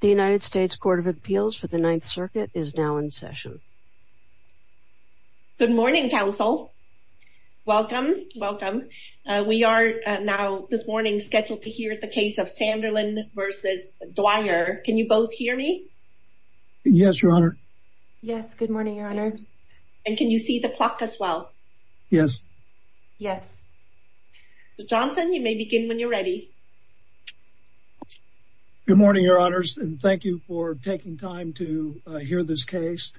The United States Court of Appeals for the Ninth Circuit is now in session. Good morning counsel. Welcome, welcome. We are now this morning scheduled to hear the case of Sanderlin v. Dwyer. Can you both hear me? Yes, your honor. Yes, good morning, your honors. And can you see the clock as well? Yes. Yes. Johnson, you may begin when you're ready. Good morning, your honors, and thank you for taking time to hear this case.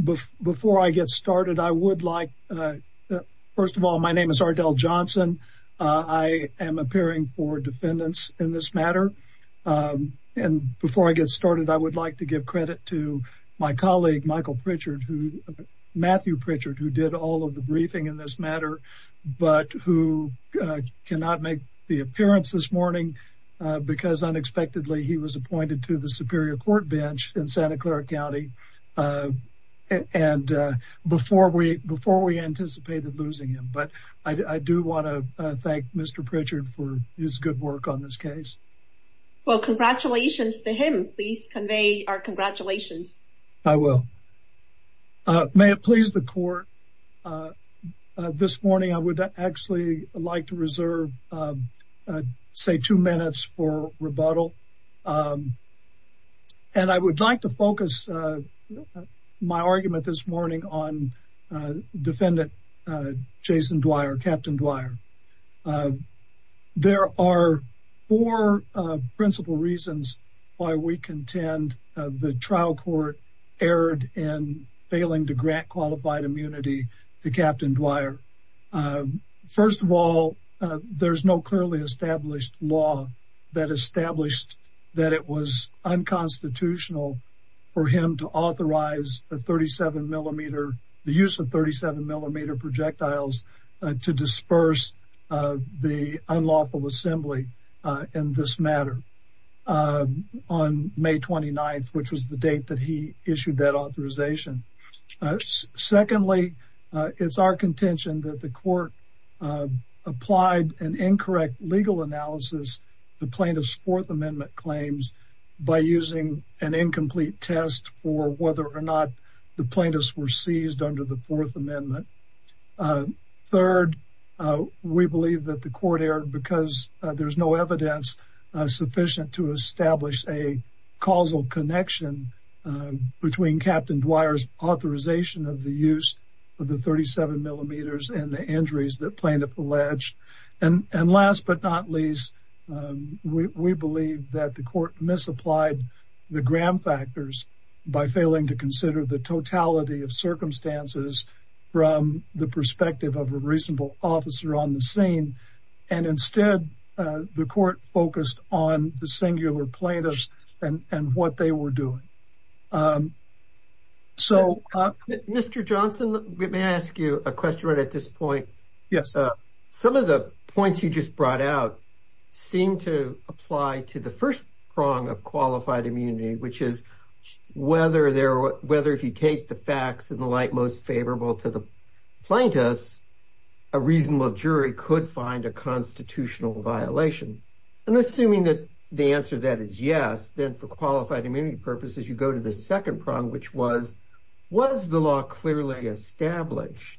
Before I get started, I would like, first of all, my name is Ardell Johnson. I am appearing for defendants in this matter. And before I get started, I would like to give credit to my colleague Michael Pritchard, Matthew Pritchard, who did all of the briefing in this matter, but who cannot make the appearance this morning because unexpectedly he was appointed to the Superior Court bench in Santa Clara County before we anticipated losing him. But I do want to thank Mr. Pritchard for his good work on this case. Well, congratulations to him. Please convey our congratulations. I will. May it please the court. This morning, I would actually like to reserve, say, two minutes for rebuttal. And I would like to focus my argument this morning on defendant Jason Dwyer, Captain Dwyer. There are four principal reasons why we contend the trial court erred in failing to grant qualified immunity to Captain Dwyer. First of all, there's no clearly established law that established that it was unconstitutional for him to authorize the 37 millimeter, the use of 37 millimeter projectiles to disperse the unlawful assembly in this matter on May 29th, which was the date that he issued that authorization. Secondly, it's our contention that the court applied an incorrect legal analysis the plaintiff's Fourth Amendment claims by using an incomplete test for whether or not the plaintiffs were seized under the Fourth Amendment. Third, we believe that the court erred because there's no evidence sufficient to establish a causal connection between Captain Dwyer's authorization of the use of the 37 millimeters and the injuries that plaintiff alleged. And last but not least, we believe that the court misapplied the Graham factors by failing to consider the totality of circumstances from the perspective of a reasonable officer on the scene. And instead, the court focused on the singular plaintiffs and what they were doing. So, Mr. Johnson, may I ask you a question right at this point? Yes. Some of the points you just brought out seem to apply to the first prong of qualified immunity, which is whether if you take the facts in the light most favorable to the plaintiffs, a reasonable jury could find a constitutional violation. And assuming that the answer to that is yes, then for qualified immunity purposes, you go to the second prong, which was, was the law clearly established?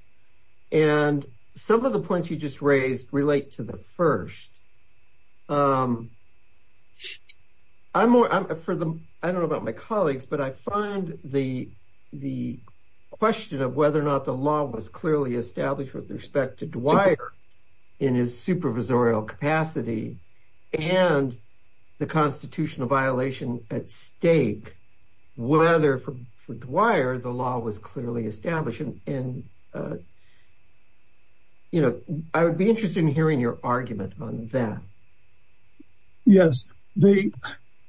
And some of the points you just raised relate to the first. I'm more for them. I don't know about my colleagues, but I find the the question of whether or not the law was clearly established with respect to Dwyer in his supervisorial capacity and the constitutional violation at stake, whether for Dwyer, the law was clearly established in. You know, I would be interested in hearing your argument on that. Yes, the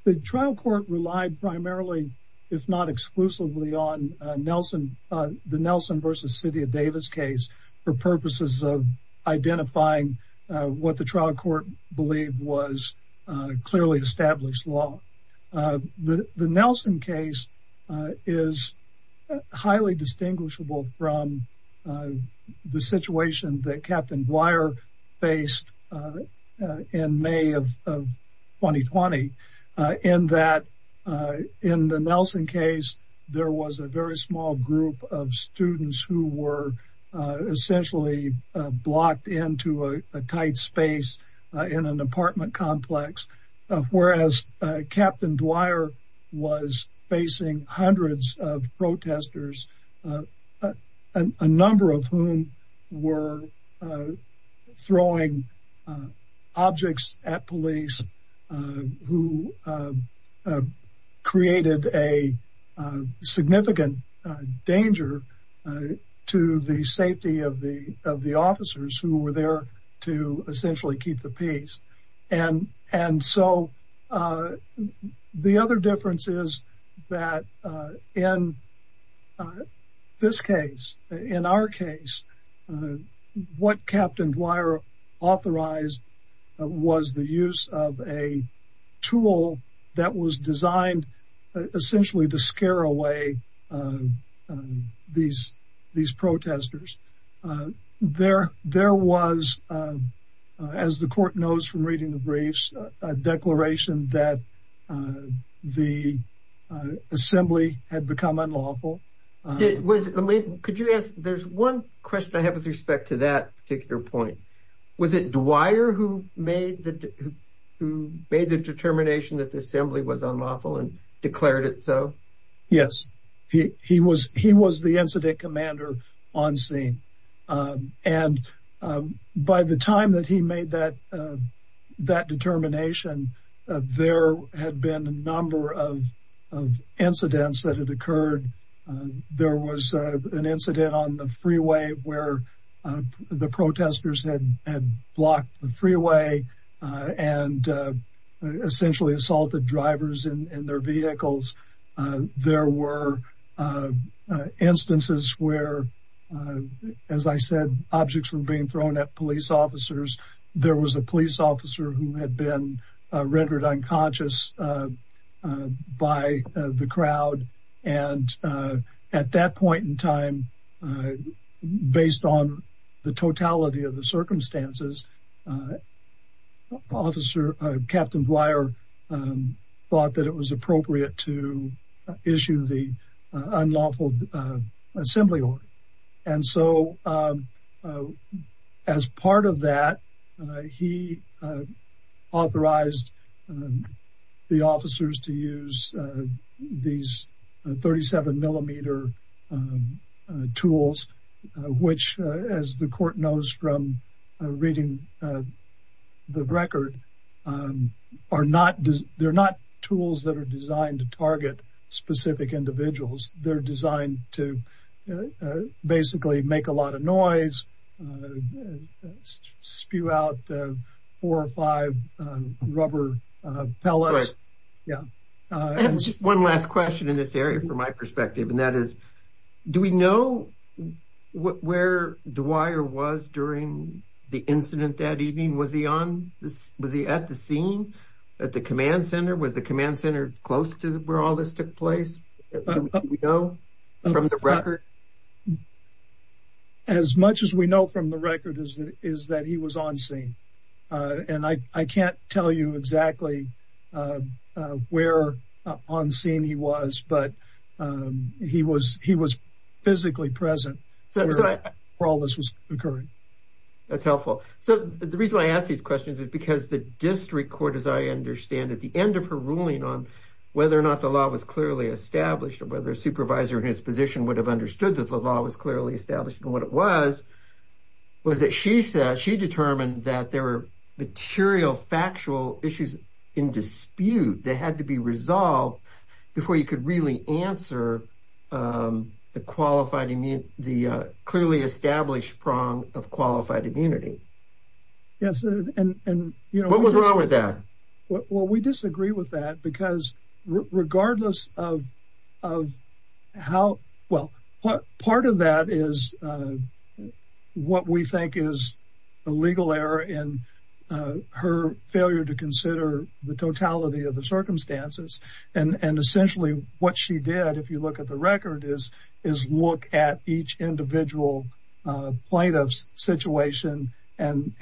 the trial court relied primarily, if not exclusively on Nelson, the Nelson versus Davis case for purposes of identifying what the trial court believed was clearly established law. The Nelson case is highly distinguishable from the situation that Captain Dwyer faced in May of 2020, in that in the Nelson case, there was a very small group of students who were essentially blocked into a tight space in an apartment complex, whereas Captain Dwyer was facing hundreds of protesters, a number of whom were throwing objects at police, who created a significant danger to the safety of the of the officers who were there to essentially keep the peace. And so the other difference is that in this case, in our case, what Captain Dwyer authorized was the use of a tool that was designed essentially to scare away these protesters. There was, as the court knows from reading the briefs, a declaration that the assembly had become unlawful. Could you ask, there's one question I have with respect to that particular point. Was it Dwyer who made the determination that the assembly was unlawful and declared it so? Yes, he was the incident commander on scene. And by the time that he made that determination, there had been a number of incidents that had occurred. There was an incident on the freeway where the protesters had blocked the freeway and essentially assaulted drivers and their vehicles. There were instances where, as I said, objects were being thrown at police officers. There was a police officer who had been rendered unconscious by the crowd. And at that point in time, based on the totality of the circumstances, Captain Dwyer thought that it was appropriate to issue the unlawful assembly order. And so as part of that, he authorized the officers to use these 37 millimeter tools, which as the court knows from reading the record, they're not tools that are designed to target specific individuals. They're designed to basically make a lot of noise, spew out four or five rubber pellets. Yeah. One last question in this area, from my perspective, and that is, do we know where Dwyer was during the incident that evening? Was he at the scene at the command center? Was the command center close to where all this took place? Do we know from the record? As much as we know from the record is that he was on scene. And I can't tell you exactly where on scene he was, but he was physically present for all this was occurring. That's helpful. So the reason I ask these questions is because the district court, as I understand, at the end of her ruling on whether or not the law was clearly established or whether a supervisor in his position would have understood that the law was clearly established and what it was, was that she determined that there were material factual issues in dispute that had to be resolved before you could really answer the clearly established prong of qualified immunity. What was wrong with that? Well, we disagree with that because regardless of how, well, part of that is what we think is a legal error in her failure to consider the totality of the circumstances. And essentially what she did, if you look at the record, is look at each individual plaintiff's situation and,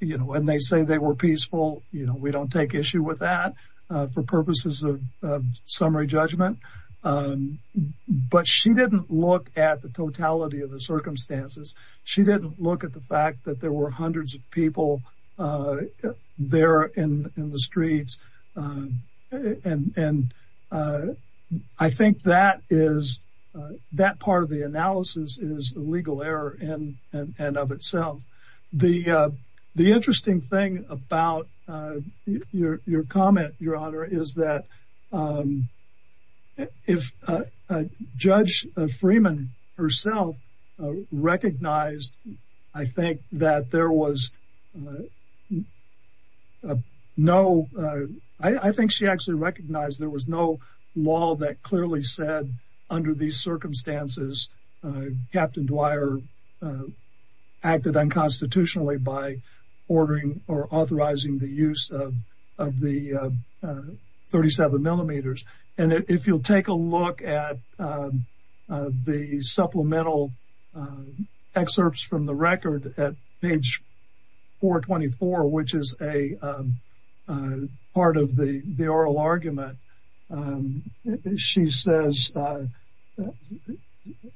you know, when they say they were peaceful, you know, don't take issue with that for purposes of summary judgment. But she didn't look at the totality of the circumstances. She didn't look at the fact that there were hundreds of people there in the streets. And I think that is that part of the analysis is a legal error in and of itself. The interesting thing about your comment, Your Honor, is that if Judge Freeman herself recognized, I think that there was no, I think she actually recognized there was no law that clearly said under these circumstances, Captain Dwyer acted unconstitutionally by ordering or authorizing the use of the 37 millimeters. And if you'll take a look at the supplemental excerpts from the record at page 424, which is a part of the oral argument, she says,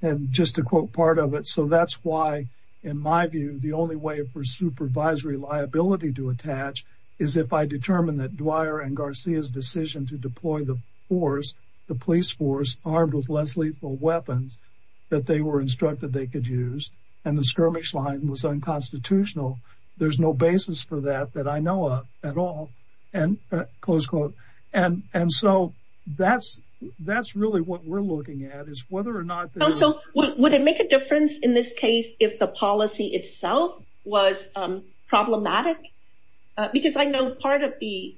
and just to quote part of it, so that's why, in my view, the only way for supervisory liability to attach is if I determine that Dwyer and Garcia's decision to deploy the force, the police force armed with less lethal weapons that they were instructed they could use, and the skirmish line was unconstitutional. There's no basis for that that I know of at all. And close quote. And and so that's, that's really what we're looking at is whether or not. Would it make a difference in this case if the policy itself was problematic? Because I know part of the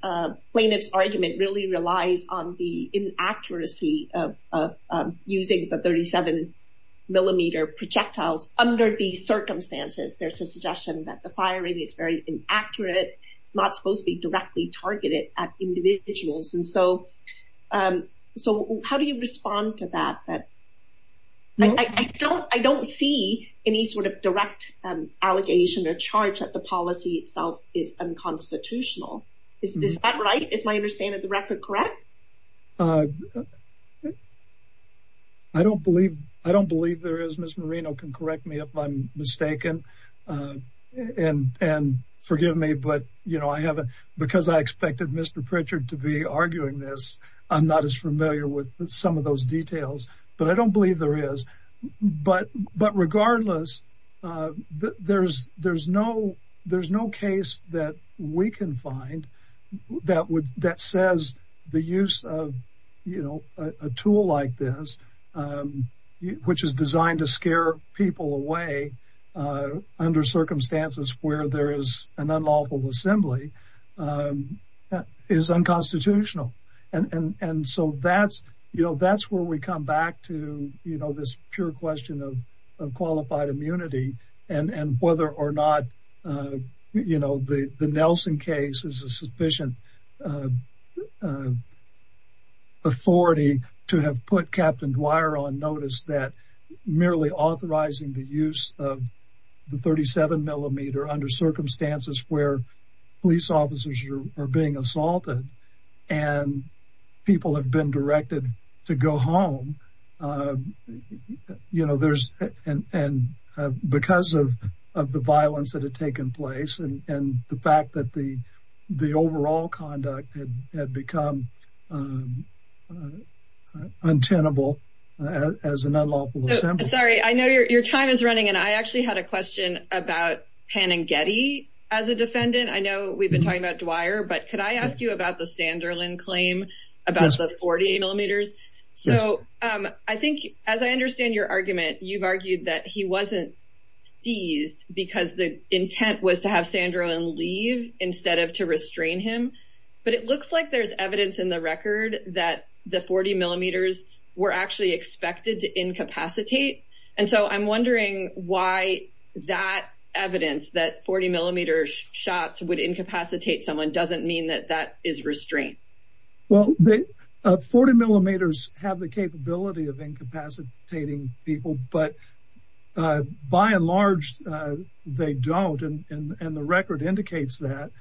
plaintiff's argument really relies on the inaccuracy of using the 37 millimeter projectiles under these circumstances. There's a suggestion that the firing is very inaccurate. It's not supposed to be directly targeted at individuals. And so how do you respond to that? I don't see any sort of direct allegation or charge that the policy itself is unconstitutional. Is that right? Is my understanding of the record correct? I don't believe there is. Ms. Moreno can correct me if I'm mistaken. And forgive me, you know, because I expected Mr. Pritchard to be arguing this. I'm not as familiar with some of those details. But I don't believe there is. But regardless, there's no case that we can find that says the use of, you know, a tool like this, which is designed to scare people away under circumstances where there is an unlawful assembly, is unconstitutional. And so that's, you know, that's where we come back to, you know, this pure question of qualified immunity and whether or not, you know, the Nelson case is a sufficient authority to have put Captain Dwyer on notice that merely authorizing the use of the 37 millimeter under circumstances where police officers are being assaulted, and people have been directed to go home. You know, there's, and because of the violence that had taken place and the fact that the overall conduct had become untenable as an unlawful assembly. Sorry, I know your time is running. And I actually had a question about Panagetti. As a defendant, I know we've been talking about Dwyer. But could I ask you about the Sanderlin claim about the 40 millimeters? So I think, as I understand your argument, you've argued that he wasn't seized because the intent was to have Sanderlin leave instead of to restrain him. But it looks like there's evidence in the record that the 40 millimeters were actually expected to incapacitate. And so I'm wondering why that evidence that 40 millimeter shots would incapacitate someone doesn't mean that that is restraint. Well, 40 millimeters have the capability of by and large, they don't. And the record indicates that,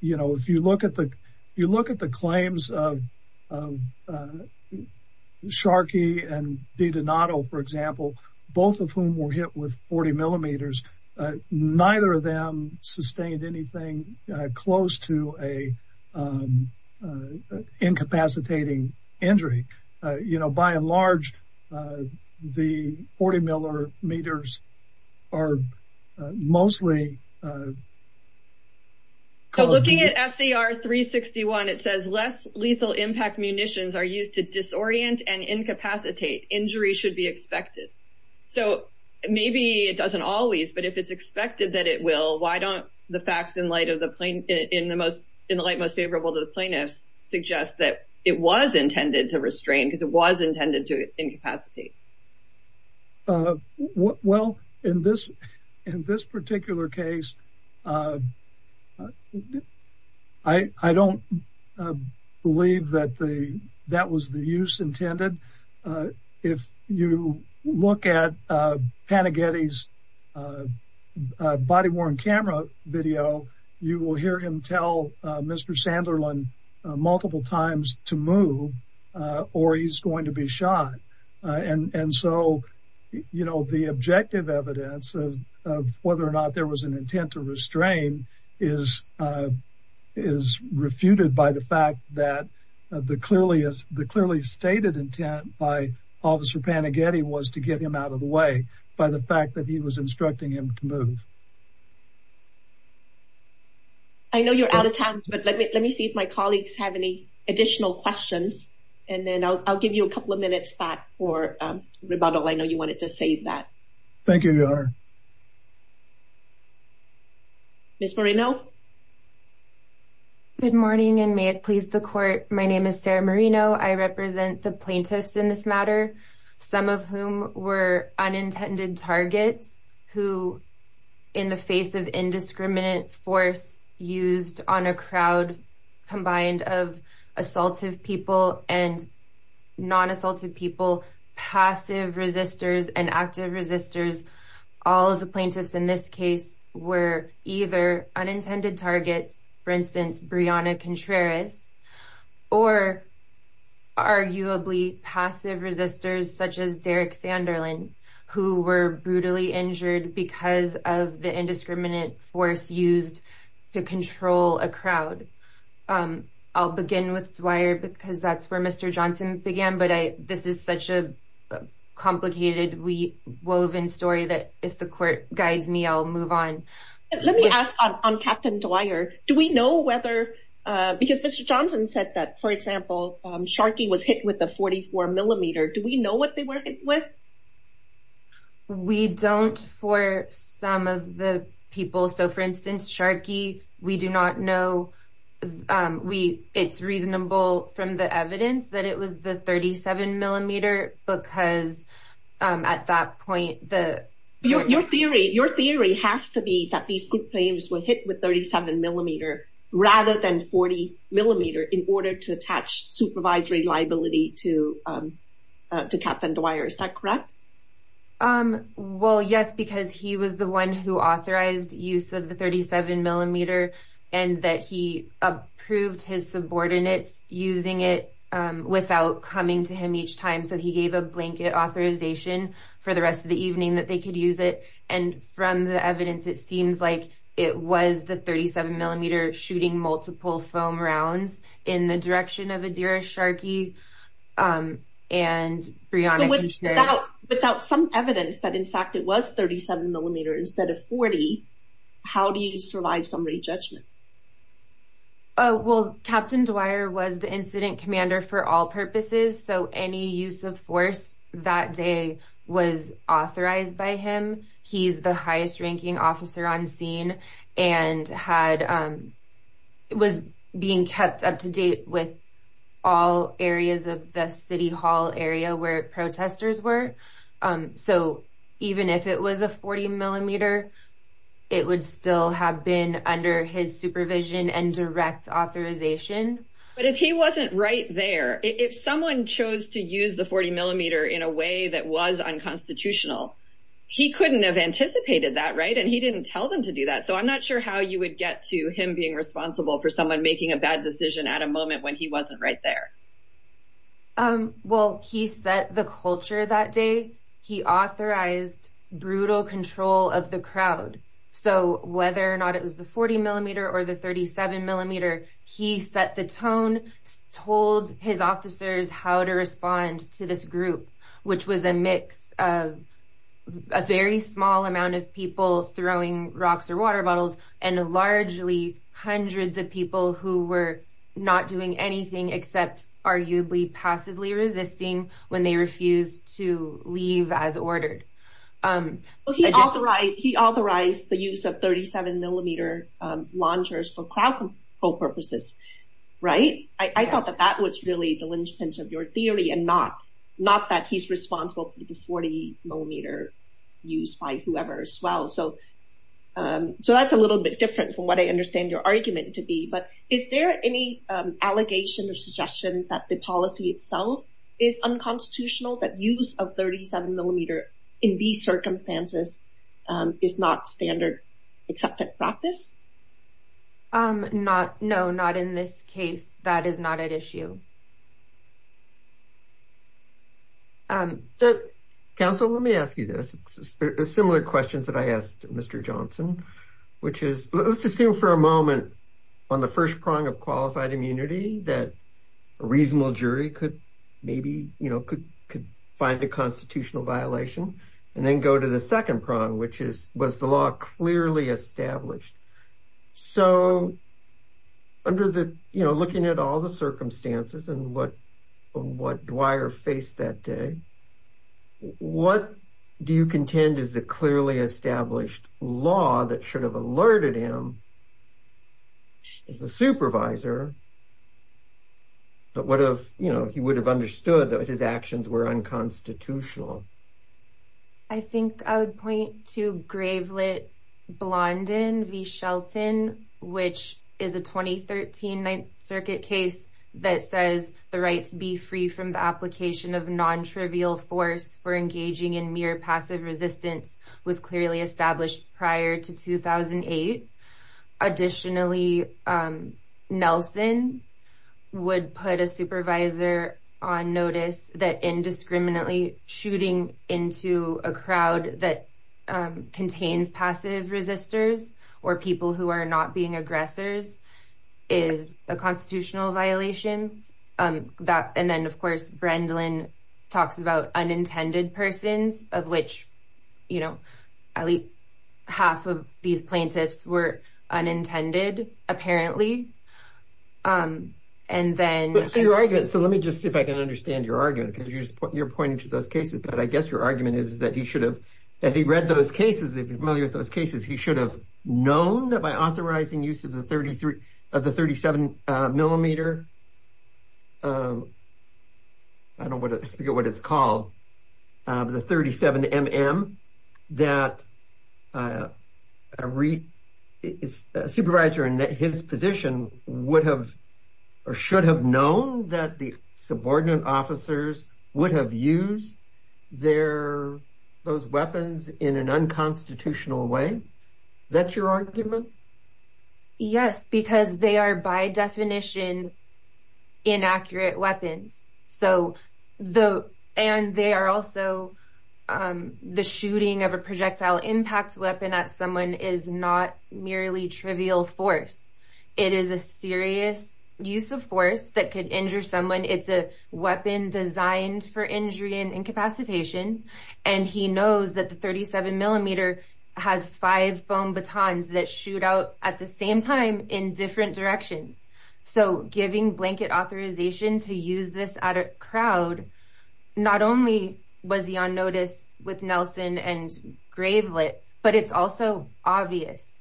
you know, if you look at the, you look at the claims of Sharkey and D Donato, for example, both of whom were hit with 40 millimeters, neither of them sustained anything close to a incapacitating injury, you know, by and large, the 40 millimeter meters are mostly. So looking at SCR 361, it says less lethal impact munitions are used to disorient and incapacitate injury should be expected. So maybe it doesn't always but if it's expected that it will, why don't the facts in light of the plane in the most in the light most favorable to the plaintiffs suggest that it was intended to restrain because it was intended to incapacitate? Well, in this, in this particular case, I don't believe that the that was the use intended. If you look at Panagetti's body worn camera video, you will hear him tell Mr. Sanderlin multiple times to move or he's going to be shot. And so, you know, the objective evidence of whether or not there was an intent to restrain is, is refuted by the fact that the clearly as the clearly stated intent by Officer Panagetti was to get him out of the way by the fact that he was instructing him to move. I know you're out of time, but let me let me see if my colleagues have any additional questions. And then I'll give you a couple of minutes back for rebuttal. I know you wanted to save that. Thank you. Miss Marino. Good morning and may it please the court. My name is Sarah Marino. I represent the plaintiffs in this matter, some of whom were unintended targets who in the face of indiscriminate force used on a crowd combined of assaultive people and non-assaultive people, passive resistors and active resistors. All of the plaintiffs in this case were either unintended targets, for instance, Brianna Contreras or arguably passive resistors such as Derek Sanderlin, who were brutally injured because of the indiscriminate force used to control a crowd. I'll begin with Dwyer because that's where Mr. Johnson began. But this is such a complicated woven story that if the court guides me, I'll move on. Let me ask on Captain Dwyer. Do we know whether because Mr. Johnson said that, for example, Sharkey was hit with a 44 millimeter. Do we know what they were hit with? We don't for some of the people. So, for instance, Sharkey, we do not know. We it's reasonable from the evidence that it was the 37 millimeter because at that point, the your theory, your theory has to be that these claims were hit with 37 millimeter rather than 40 millimeter in order to attach supervisory liability to the Captain Dwyer. Is that correct? Well, yes, because he was the one who authorized use of the 37 millimeter and that he approved his subordinates using it without coming to him each time. So he gave a blanket authorization for the rest of the evening that they could use it. And from the evidence, it seems like it was the 37 millimeter shooting multiple foam rounds in the direction of Adira Sharkey and Brianna without without some evidence that, in fact, it was 37 millimeters instead of 40. How do you survive somebody's judgment? Well, Captain Dwyer was the incident commander for all purposes. So any use of force that day was authorized by him. He's the highest ranking officer on scene and had was being kept up to date with all areas of the city hall area where protesters were. So even if it was a 40 millimeter, it would still have been under his supervision and direct authorization. But if he wasn't right there, if someone chose to use the 40 millimeter in a way that was unconstitutional, he couldn't have anticipated that. Right. And he didn't tell them to do that. So I'm not sure how you would get to him being responsible for someone making a bad decision at a moment when he wasn't right there. Um, well, he set the culture that day. He authorized brutal control of the crowd. So whether or not it was the 40 millimeter or the 37 millimeter, he set the tone, told his officers how to respond to this group, which was a mix of a very small amount of people throwing rocks or arguably passively resisting when they refused to leave as ordered. He authorized the use of 37 millimeter launchers for crowd control purposes, right? I thought that that was really the linchpin of your theory and not not that he's responsible for the 40 millimeter used by whoever as well. So that's a little bit different from what I understand your argument to be. But is there any allegation or suggestion that the policy itself is unconstitutional, that use of 37 millimeter in these circumstances is not standard accepted practice? Um, no, not in this case. That is not at issue. So, counsel, let me ask you this. Similar questions that I asked Mr. Johnson, which is, let's just stay for a moment on the first prong of qualified immunity that a reasonable jury could maybe, you know, could find a constitutional violation and then go to the second prong, which is, was the law clearly established? So under the, you know, looking at all the circumstances and what Dwyer faced that day, what do you contend is the clearly established law that should have alerted him as a supervisor? But what if, you know, he would have understood that his actions were unconstitutional? I think I would point to Gravelet Blondin v. Shelton, which is a 2013 Ninth Circuit case that says the right to be free from the application of non-trivial force for engaging in mere passive resistance was clearly established prior to 2008. Additionally, Nelson would put a supervisor on notice that indiscriminately shooting into a crowd that constitutional violation. And then, of course, Brendlin talks about unintended persons of which, you know, at least half of these plaintiffs were unintended, apparently. And then... So let me just see if I can understand your argument, because you're pointing to those cases. But I guess your argument is that he should have, that he read those cases, if you're familiar with those cases, he should have known that by authorizing use of the 33, of the 37 millimeter, I don't want to forget what it's called, the 37mm, that a supervisor in his position would have or should have known that the subordinate officers would have used their, those weapons in an unconstitutional way. That's your argument? Yes, because they are by definition inaccurate weapons. And they are also, the shooting of a projectile impact weapon at someone is not merely trivial force. It is a serious use of force that could injure someone. It's a weapon designed for injury and incapacitation. And he knows that the 37 millimeter has five foam batons that shoot out at the same time in different directions. So giving blanket authorization to use this at a crowd, not only was he on notice with Nelson and Gravelit, but it's also obvious.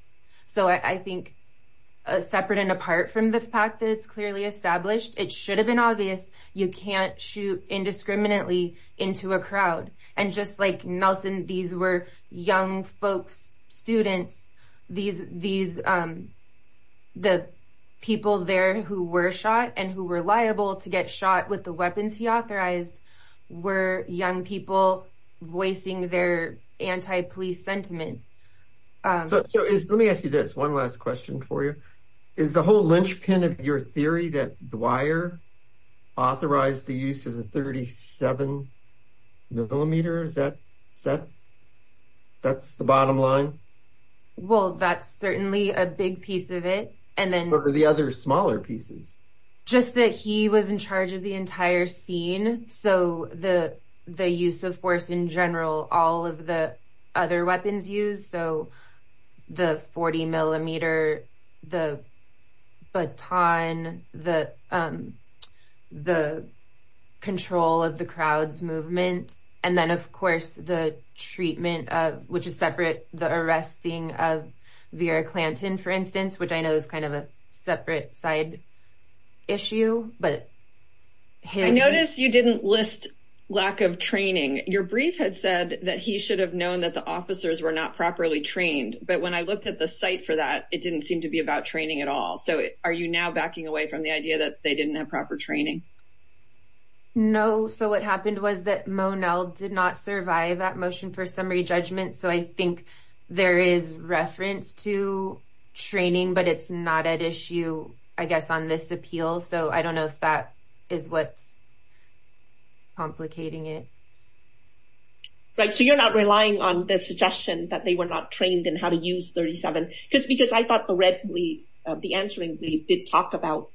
So I think, separate and apart from the fact that it's clearly established, it should have been obvious, you can't shoot indiscriminately into a crowd. And just like Nelson, these were young folks, students, the people there who were shot and who were liable to get shot with the weapons he authorized were young people voicing their anti-police sentiment. So let me ask you this, one last question for you. Is the whole linchpin of your theory that Dwyer authorized the use of the 37 millimeter? Is that set? That's the bottom line? Well, that's certainly a big piece of it. And then... What are the other smaller pieces? Just that he was in charge of the entire scene. So the use of force in general, all of the other weapons used, so the 40 millimeter, the baton, the control of the crowd's movement. And then of course, the treatment of, which is separate, the arresting of Vera Clanton, for instance, which I know is kind of a separate side issue, but... I noticed you didn't list lack of training. Your brief had said that he should have known that the officers were not properly trained. But when I looked at the site for that, it didn't seem to be about training at all. So are you now backing away from the idea that they didn't have proper training? No. So what happened was that Monell did not survive that motion for summary judgment. So I think there is reference to training, but it's not at issue, I guess, on this appeal. So I don't know if that is what's complicating it. Right. So you're not relying on the suggestion that they were not trained in how to use 37. Because I thought the red brief, the answering brief, did talk about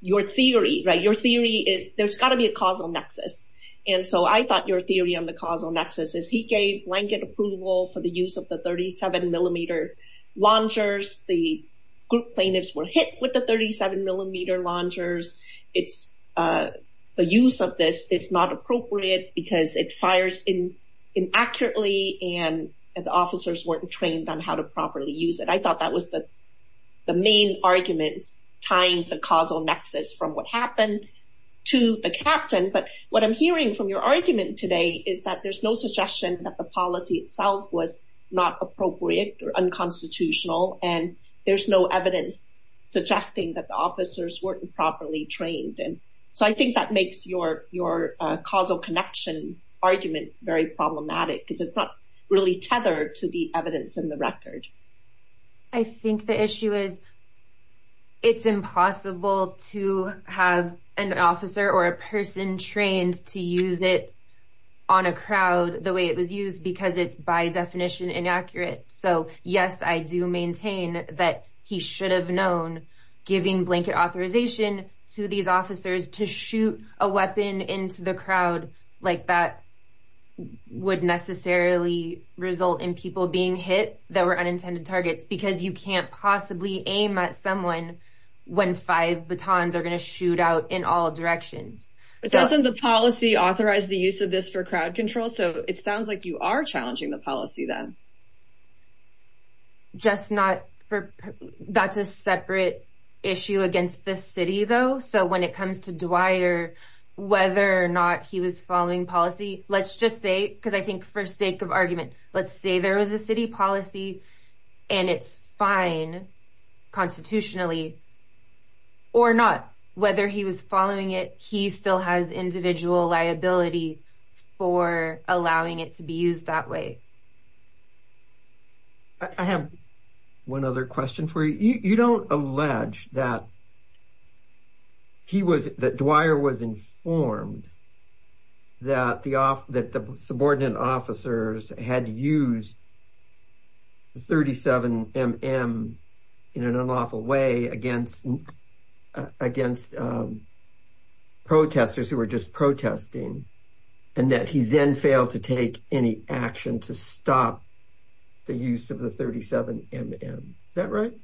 your theory, right? Your theory is there's got to be a causal nexus. And so I thought your theory on the causal nexus is he gave blanket approval for the use of the 37 millimeter launchers. The group plaintiffs were hit with the 37 millimeter launchers. It's the use of this, it's not appropriate, because it fires in inaccurately, and the officers weren't trained on how to properly use it. I thought that was the main arguments tying the causal nexus from what happened to the captain. But what I'm hearing from your argument today is that there's no suggestion that the policy itself was not appropriate or unconstitutional. And there's no evidence suggesting that the officers weren't properly trained. And so I think that makes your causal connection argument very problematic, because it's not really tethered to the evidence in the record. I think the issue is, it's impossible to have an officer or a person trained to use it on a crowd the way it was used, because it's by definition inaccurate. So yes, I do maintain that he should have known, giving blanket authorization to these officers to shoot a weapon into the crowd, like that would necessarily result in people being hit that were unintended targets, because you can't possibly aim at someone when five batons are going to shoot out in all directions. Doesn't the policy authorize the use of this for crowd control? So it sounds like you are challenging the policy then. Just not for, that's a separate issue against the city though. So when it comes to Dwyer, whether or not he was following policy, let's just say, because I think for sake of argument, let's say there was a city policy and it's fine constitutionally, or not. Whether he was following it, he still has individual liability for allowing it to be used that way. I have one other question for you. You don't allege that Dwyer was informed that the subordinate officers had used the 37MM in an unlawful way against protesters who were just protesting, and that he then failed to take any action to stop the use of the 37MM. Is that right?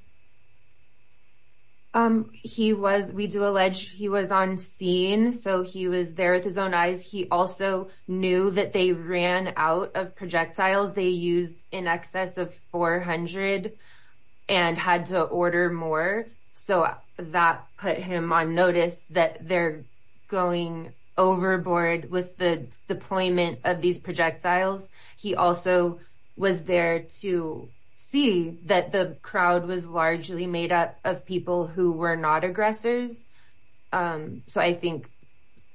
He was, we do allege he was on scene, so he was there with his own eyes. He also knew that they ran out of projectiles they used in excess of 400 and had to order more. So that put him on notice that they're going overboard with the deployment of these projectiles. He also was there to see that the crowd was largely made up of people who were not aggressors. So I think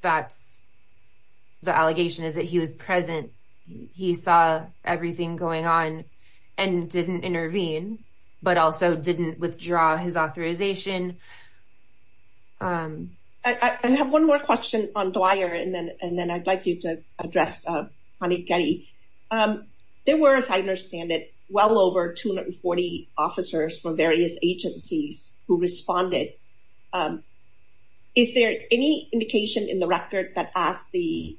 that's the allegation is that he was present. He saw everything going on and didn't intervene, but also didn't withdraw his authorization. I have one more question on Dwyer, and then I'd like you to address, Hanif Gedi. There were, as I understand it, well over 240 officers from various agencies who responded. Is there any indication in the record that asked the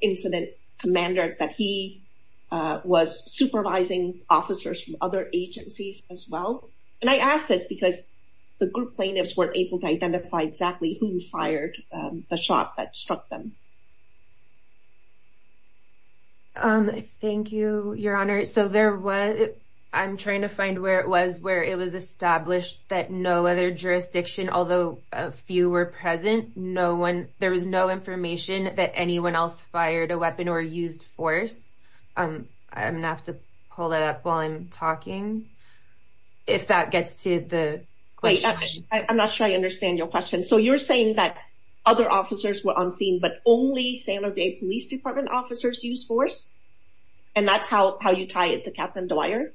incident commander that he was supervising officers from other agencies as well? And I ask this because the group plaintiffs weren't able to identify exactly who fired the shot that struck them. Um, thank you, Your Honor. So there was, I'm trying to find where it was, where it was established that no other jurisdiction, although a few were present, no one, there was no information that anyone else fired a weapon or used force. I'm going to have to pull that up while I'm talking if that gets to the question. Wait, I'm not sure I understand your question. So you're saying that other officers were on scene, but only San Jose Police Department officers used force, and that's how you tie it to Captain Dwyer?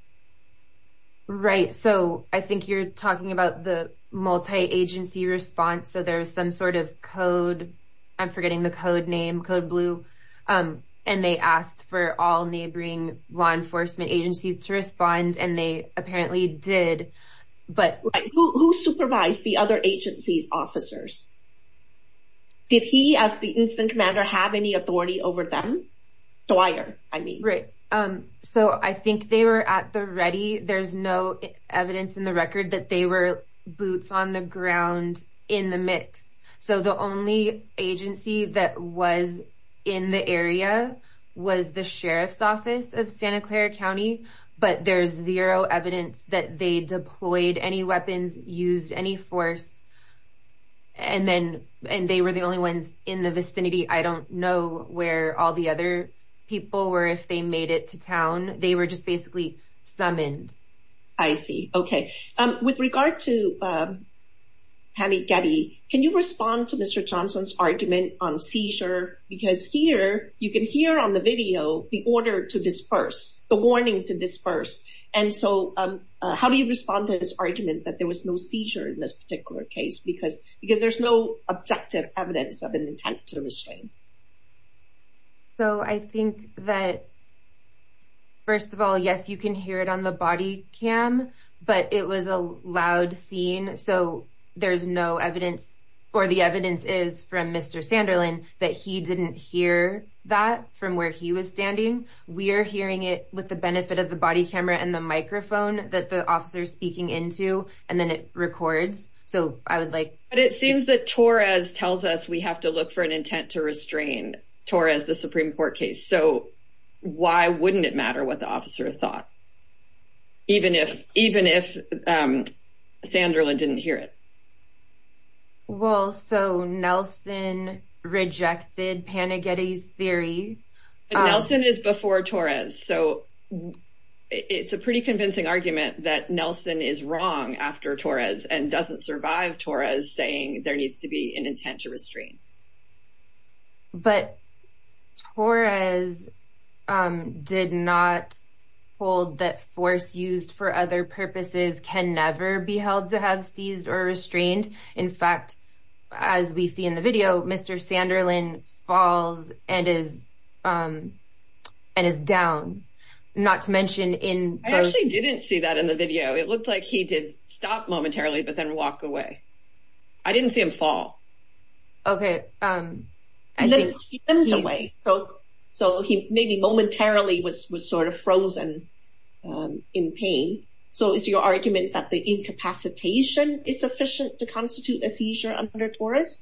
Right. So I think you're talking about the multi-agency response. So there's some sort of code, I'm forgetting the code name, code blue, and they asked for all neighboring law enforcement agencies to respond, and they did. Did he, as the incident commander, have any authority over them? Dwyer, I mean. Right. So I think they were at the ready. There's no evidence in the record that they were boots on the ground in the mix. So the only agency that was in the area was the Sheriff's Office of Santa Clara County, but there's zero evidence that they deployed any weapons, used any force, and they were the only ones in the vicinity. I don't know where all the other people were, if they made it to town. They were just basically summoned. I see. Okay. With regard to Hanny Getty, can you respond to Mr. Johnson's argument on seizure? Because here, you can hear on the video the order to disperse, the warning to disperse. And so how do you respond to this particular case? Because there's no objective evidence of an intent to restrain. So I think that, first of all, yes, you can hear it on the body cam, but it was a loud scene, so there's no evidence, or the evidence is from Mr. Sanderlin that he didn't hear that from where he was standing. We're hearing it with the benefit of the body camera and the microphone that the officer is speaking into, and then it records. So I would like- But it seems that Torres tells us we have to look for an intent to restrain Torres, the Supreme Court case. So why wouldn't it matter what the officer thought, even if Sanderlin didn't hear it? Well, so Nelson rejected Hanny Getty's theory. Nelson is before Torres, so it's a pretty convincing argument that Nelson is wrong after Torres and doesn't survive Torres saying there needs to be an intent to restrain. But Torres did not hold that force used for other purposes can never be held to have seized or restrained. In fact, as we see in the video, Mr. Sanderlin falls and is down, not to mention in- I actually didn't see that in the video. It looked like he did stop momentarily, but then walk away. I didn't see him fall. Okay. So he maybe momentarily was sort of frozen in pain. So is your argument that the incapacitation is sufficient to constitute a seizure under Torres?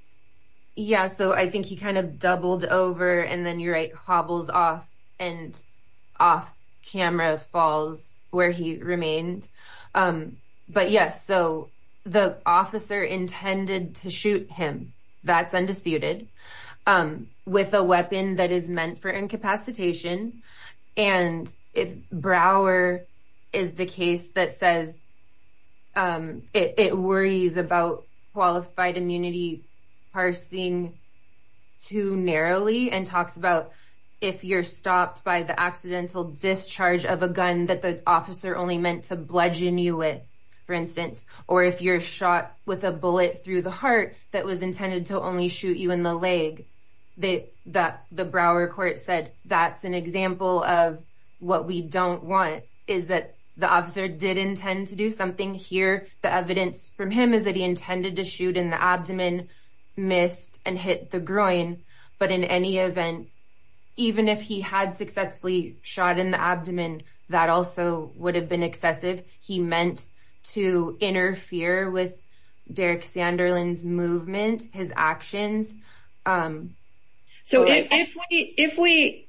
Yeah. So I think he kind of doubled over and then you're right, hobbles off and off camera falls where he remained. But yes, so the officer intended to shoot him. That's undisputed with a weapon that is meant for about qualified immunity parsing too narrowly and talks about if you're stopped by the accidental discharge of a gun that the officer only meant to bludgeon you with, for instance, or if you're shot with a bullet through the heart that was intended to only shoot you in the leg. The Brouwer court said that's an example of what we don't want is that the officer did intend to do something here. The evidence from him is that he intended to shoot in the abdomen, missed and hit the groin. But in any event, even if he had successfully shot in the abdomen, that also would have been excessive. He meant to interfere with Derek Sanderlin's movement, his actions. So if we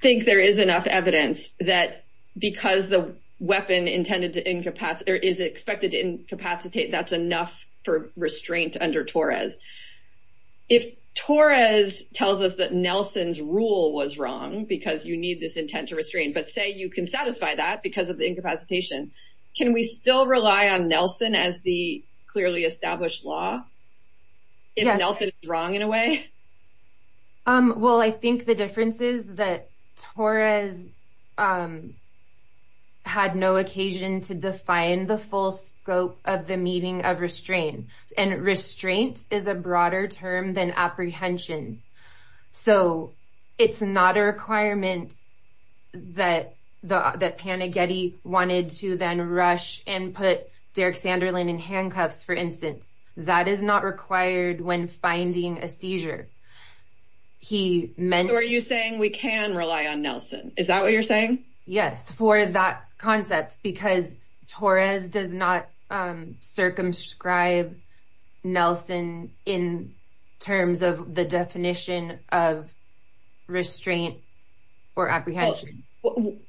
think there is enough evidence that because the weapon intended to is expected to incapacitate, that's enough for restraint under Torres. If Torres tells us that Nelson's rule was wrong, because you need this intent to restrain, but say you can satisfy that because of the incapacitation, can we still rely on Nelson as the clearly established law? If Nelson is wrong in a way? Well, I think the difference is that Torres had no occasion to define the full scope of the meaning of restraint. And restraint is a broader term than apprehension. So it's not a requirement that Panagetti wanted to then rush and put Derek Sanderlin in handcuffs, for instance. That is not required when finding a seizure. He meant... So are you saying we can rely on Nelson? Is that what you're saying? Yes, for that concept, because Torres does not circumscribe Nelson in terms of the definition of restraint or apprehension.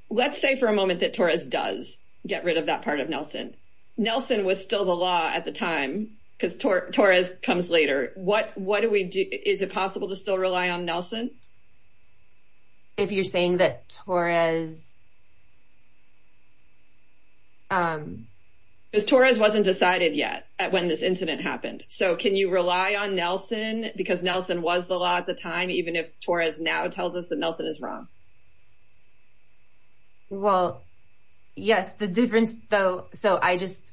Let's say for a moment that Torres does get rid of that part of Nelson. Nelson was still the law at the time, because Torres comes later. Is it possible to still rely on Nelson? If you're saying that Torres... Because Torres wasn't decided yet when this incident happened. So can you rely on Nelson, because Nelson was the law at the time, even if Torres now tells us that Nelson is wrong? Well, yes, the difference, though... So I just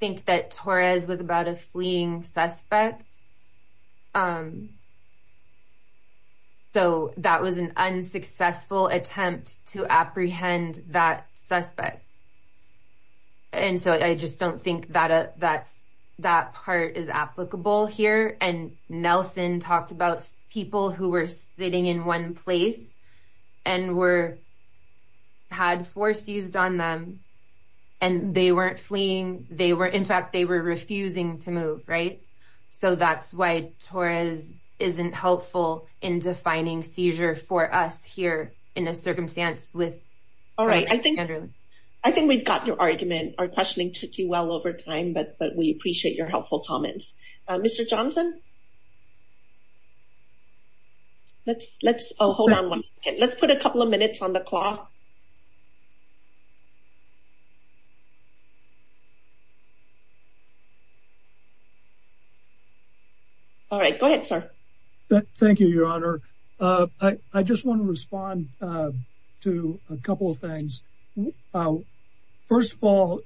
think that Torres was about a fleeing suspect. So that was an unsuccessful attempt to apprehend that suspect. And so I just don't think that that part is applicable here. And Nelson talked about people who were sitting in one place, and had force used on them, and they weren't fleeing. In fact, they were refusing to move. So that's why Torres isn't helpful in defining seizure for us here in a circumstance with... All right. I think we've got your argument. Our questioning took you well over time, but we appreciate your helpful comments. Mr. Johnson? Let's... Let's... Oh, hold on one second. Let's put a couple of minutes on the clock. All right. Go ahead, sir. Thank you, Your Honor. I just want to respond to a couple of things. First of all,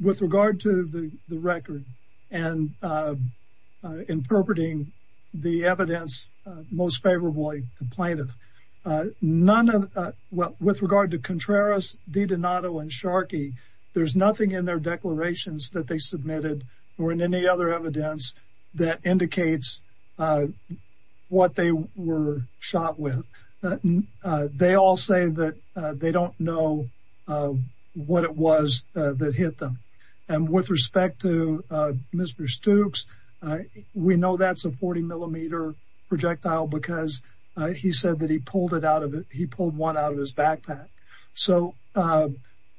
with regard to the record, and interpreting the evidence most favorably, the plaintiff, with regard to Contreras, DiDonato, and Sharkey, there's nothing in their declarations that they submitted, or in any other evidence that indicates what they were shot with. They all say that they don't know what it was that hit them. And with respect to Mr. Stukes, we know that's a 40 millimeter projectile, because he said that he pulled it out of... He pulled one out of his backpack. So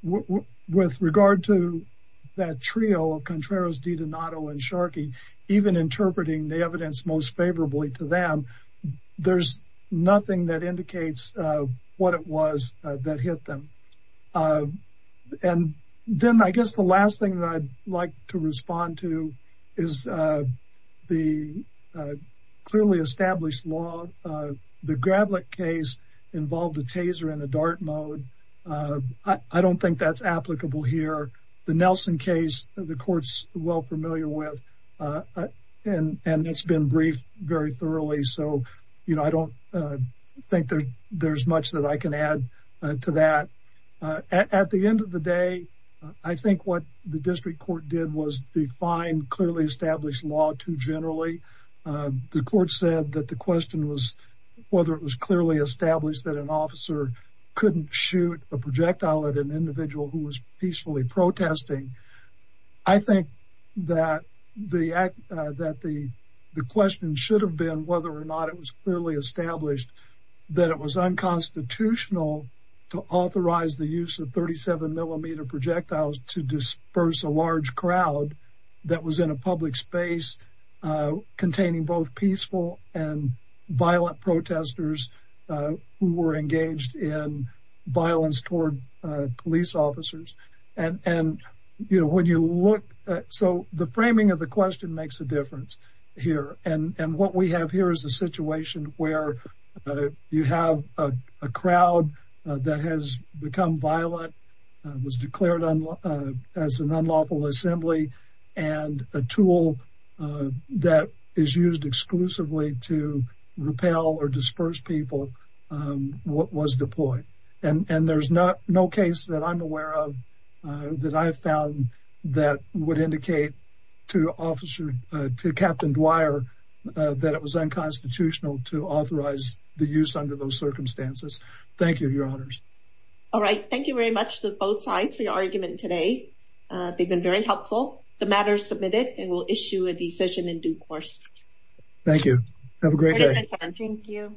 with regard to that trio of Contreras, DiDonato, and Sharkey, even interpreting the evidence most favorably, there's nothing in their declarations that indicates what they were shot with. And then, I guess the last thing that I'd like to respond to is the clearly established law. The Gravlick case involved a taser in a dart mode. I don't think that's applicable here. The Nelson case, the court's well familiar with, and it's been briefed very thoroughly. So, I don't think there's much that I can add to that. At the end of the day, I think what the district court did was define clearly established law too generally. The court said that the question was whether it was clearly established that an officer couldn't shoot a projectile at an individual who was peacefully protesting. I think that the question should have been whether or not it was clearly established that it was unconstitutional to authorize the use of 37 millimeter projectiles to disperse a large crowd that was in a public space containing both peaceful and violent protesters who were engaged in violence toward police officers. So, the framing of the question makes a difference here. And what we have here is a situation where you have a crowd that has become violent, was declared as an unlawful assembly, and a tool that is used exclusively to repel or disperse people was deployed. And there's no case that I'm aware of that I've found that would indicate to Captain Dwyer that it was unconstitutional to authorize the use under those circumstances. Thank you, Your Honors. All right. Thank you very much to both sides for your argument today. They've been very helpful. The matter is submitted and we'll issue a decision in due course. Thank you. Have a great day. Thank you.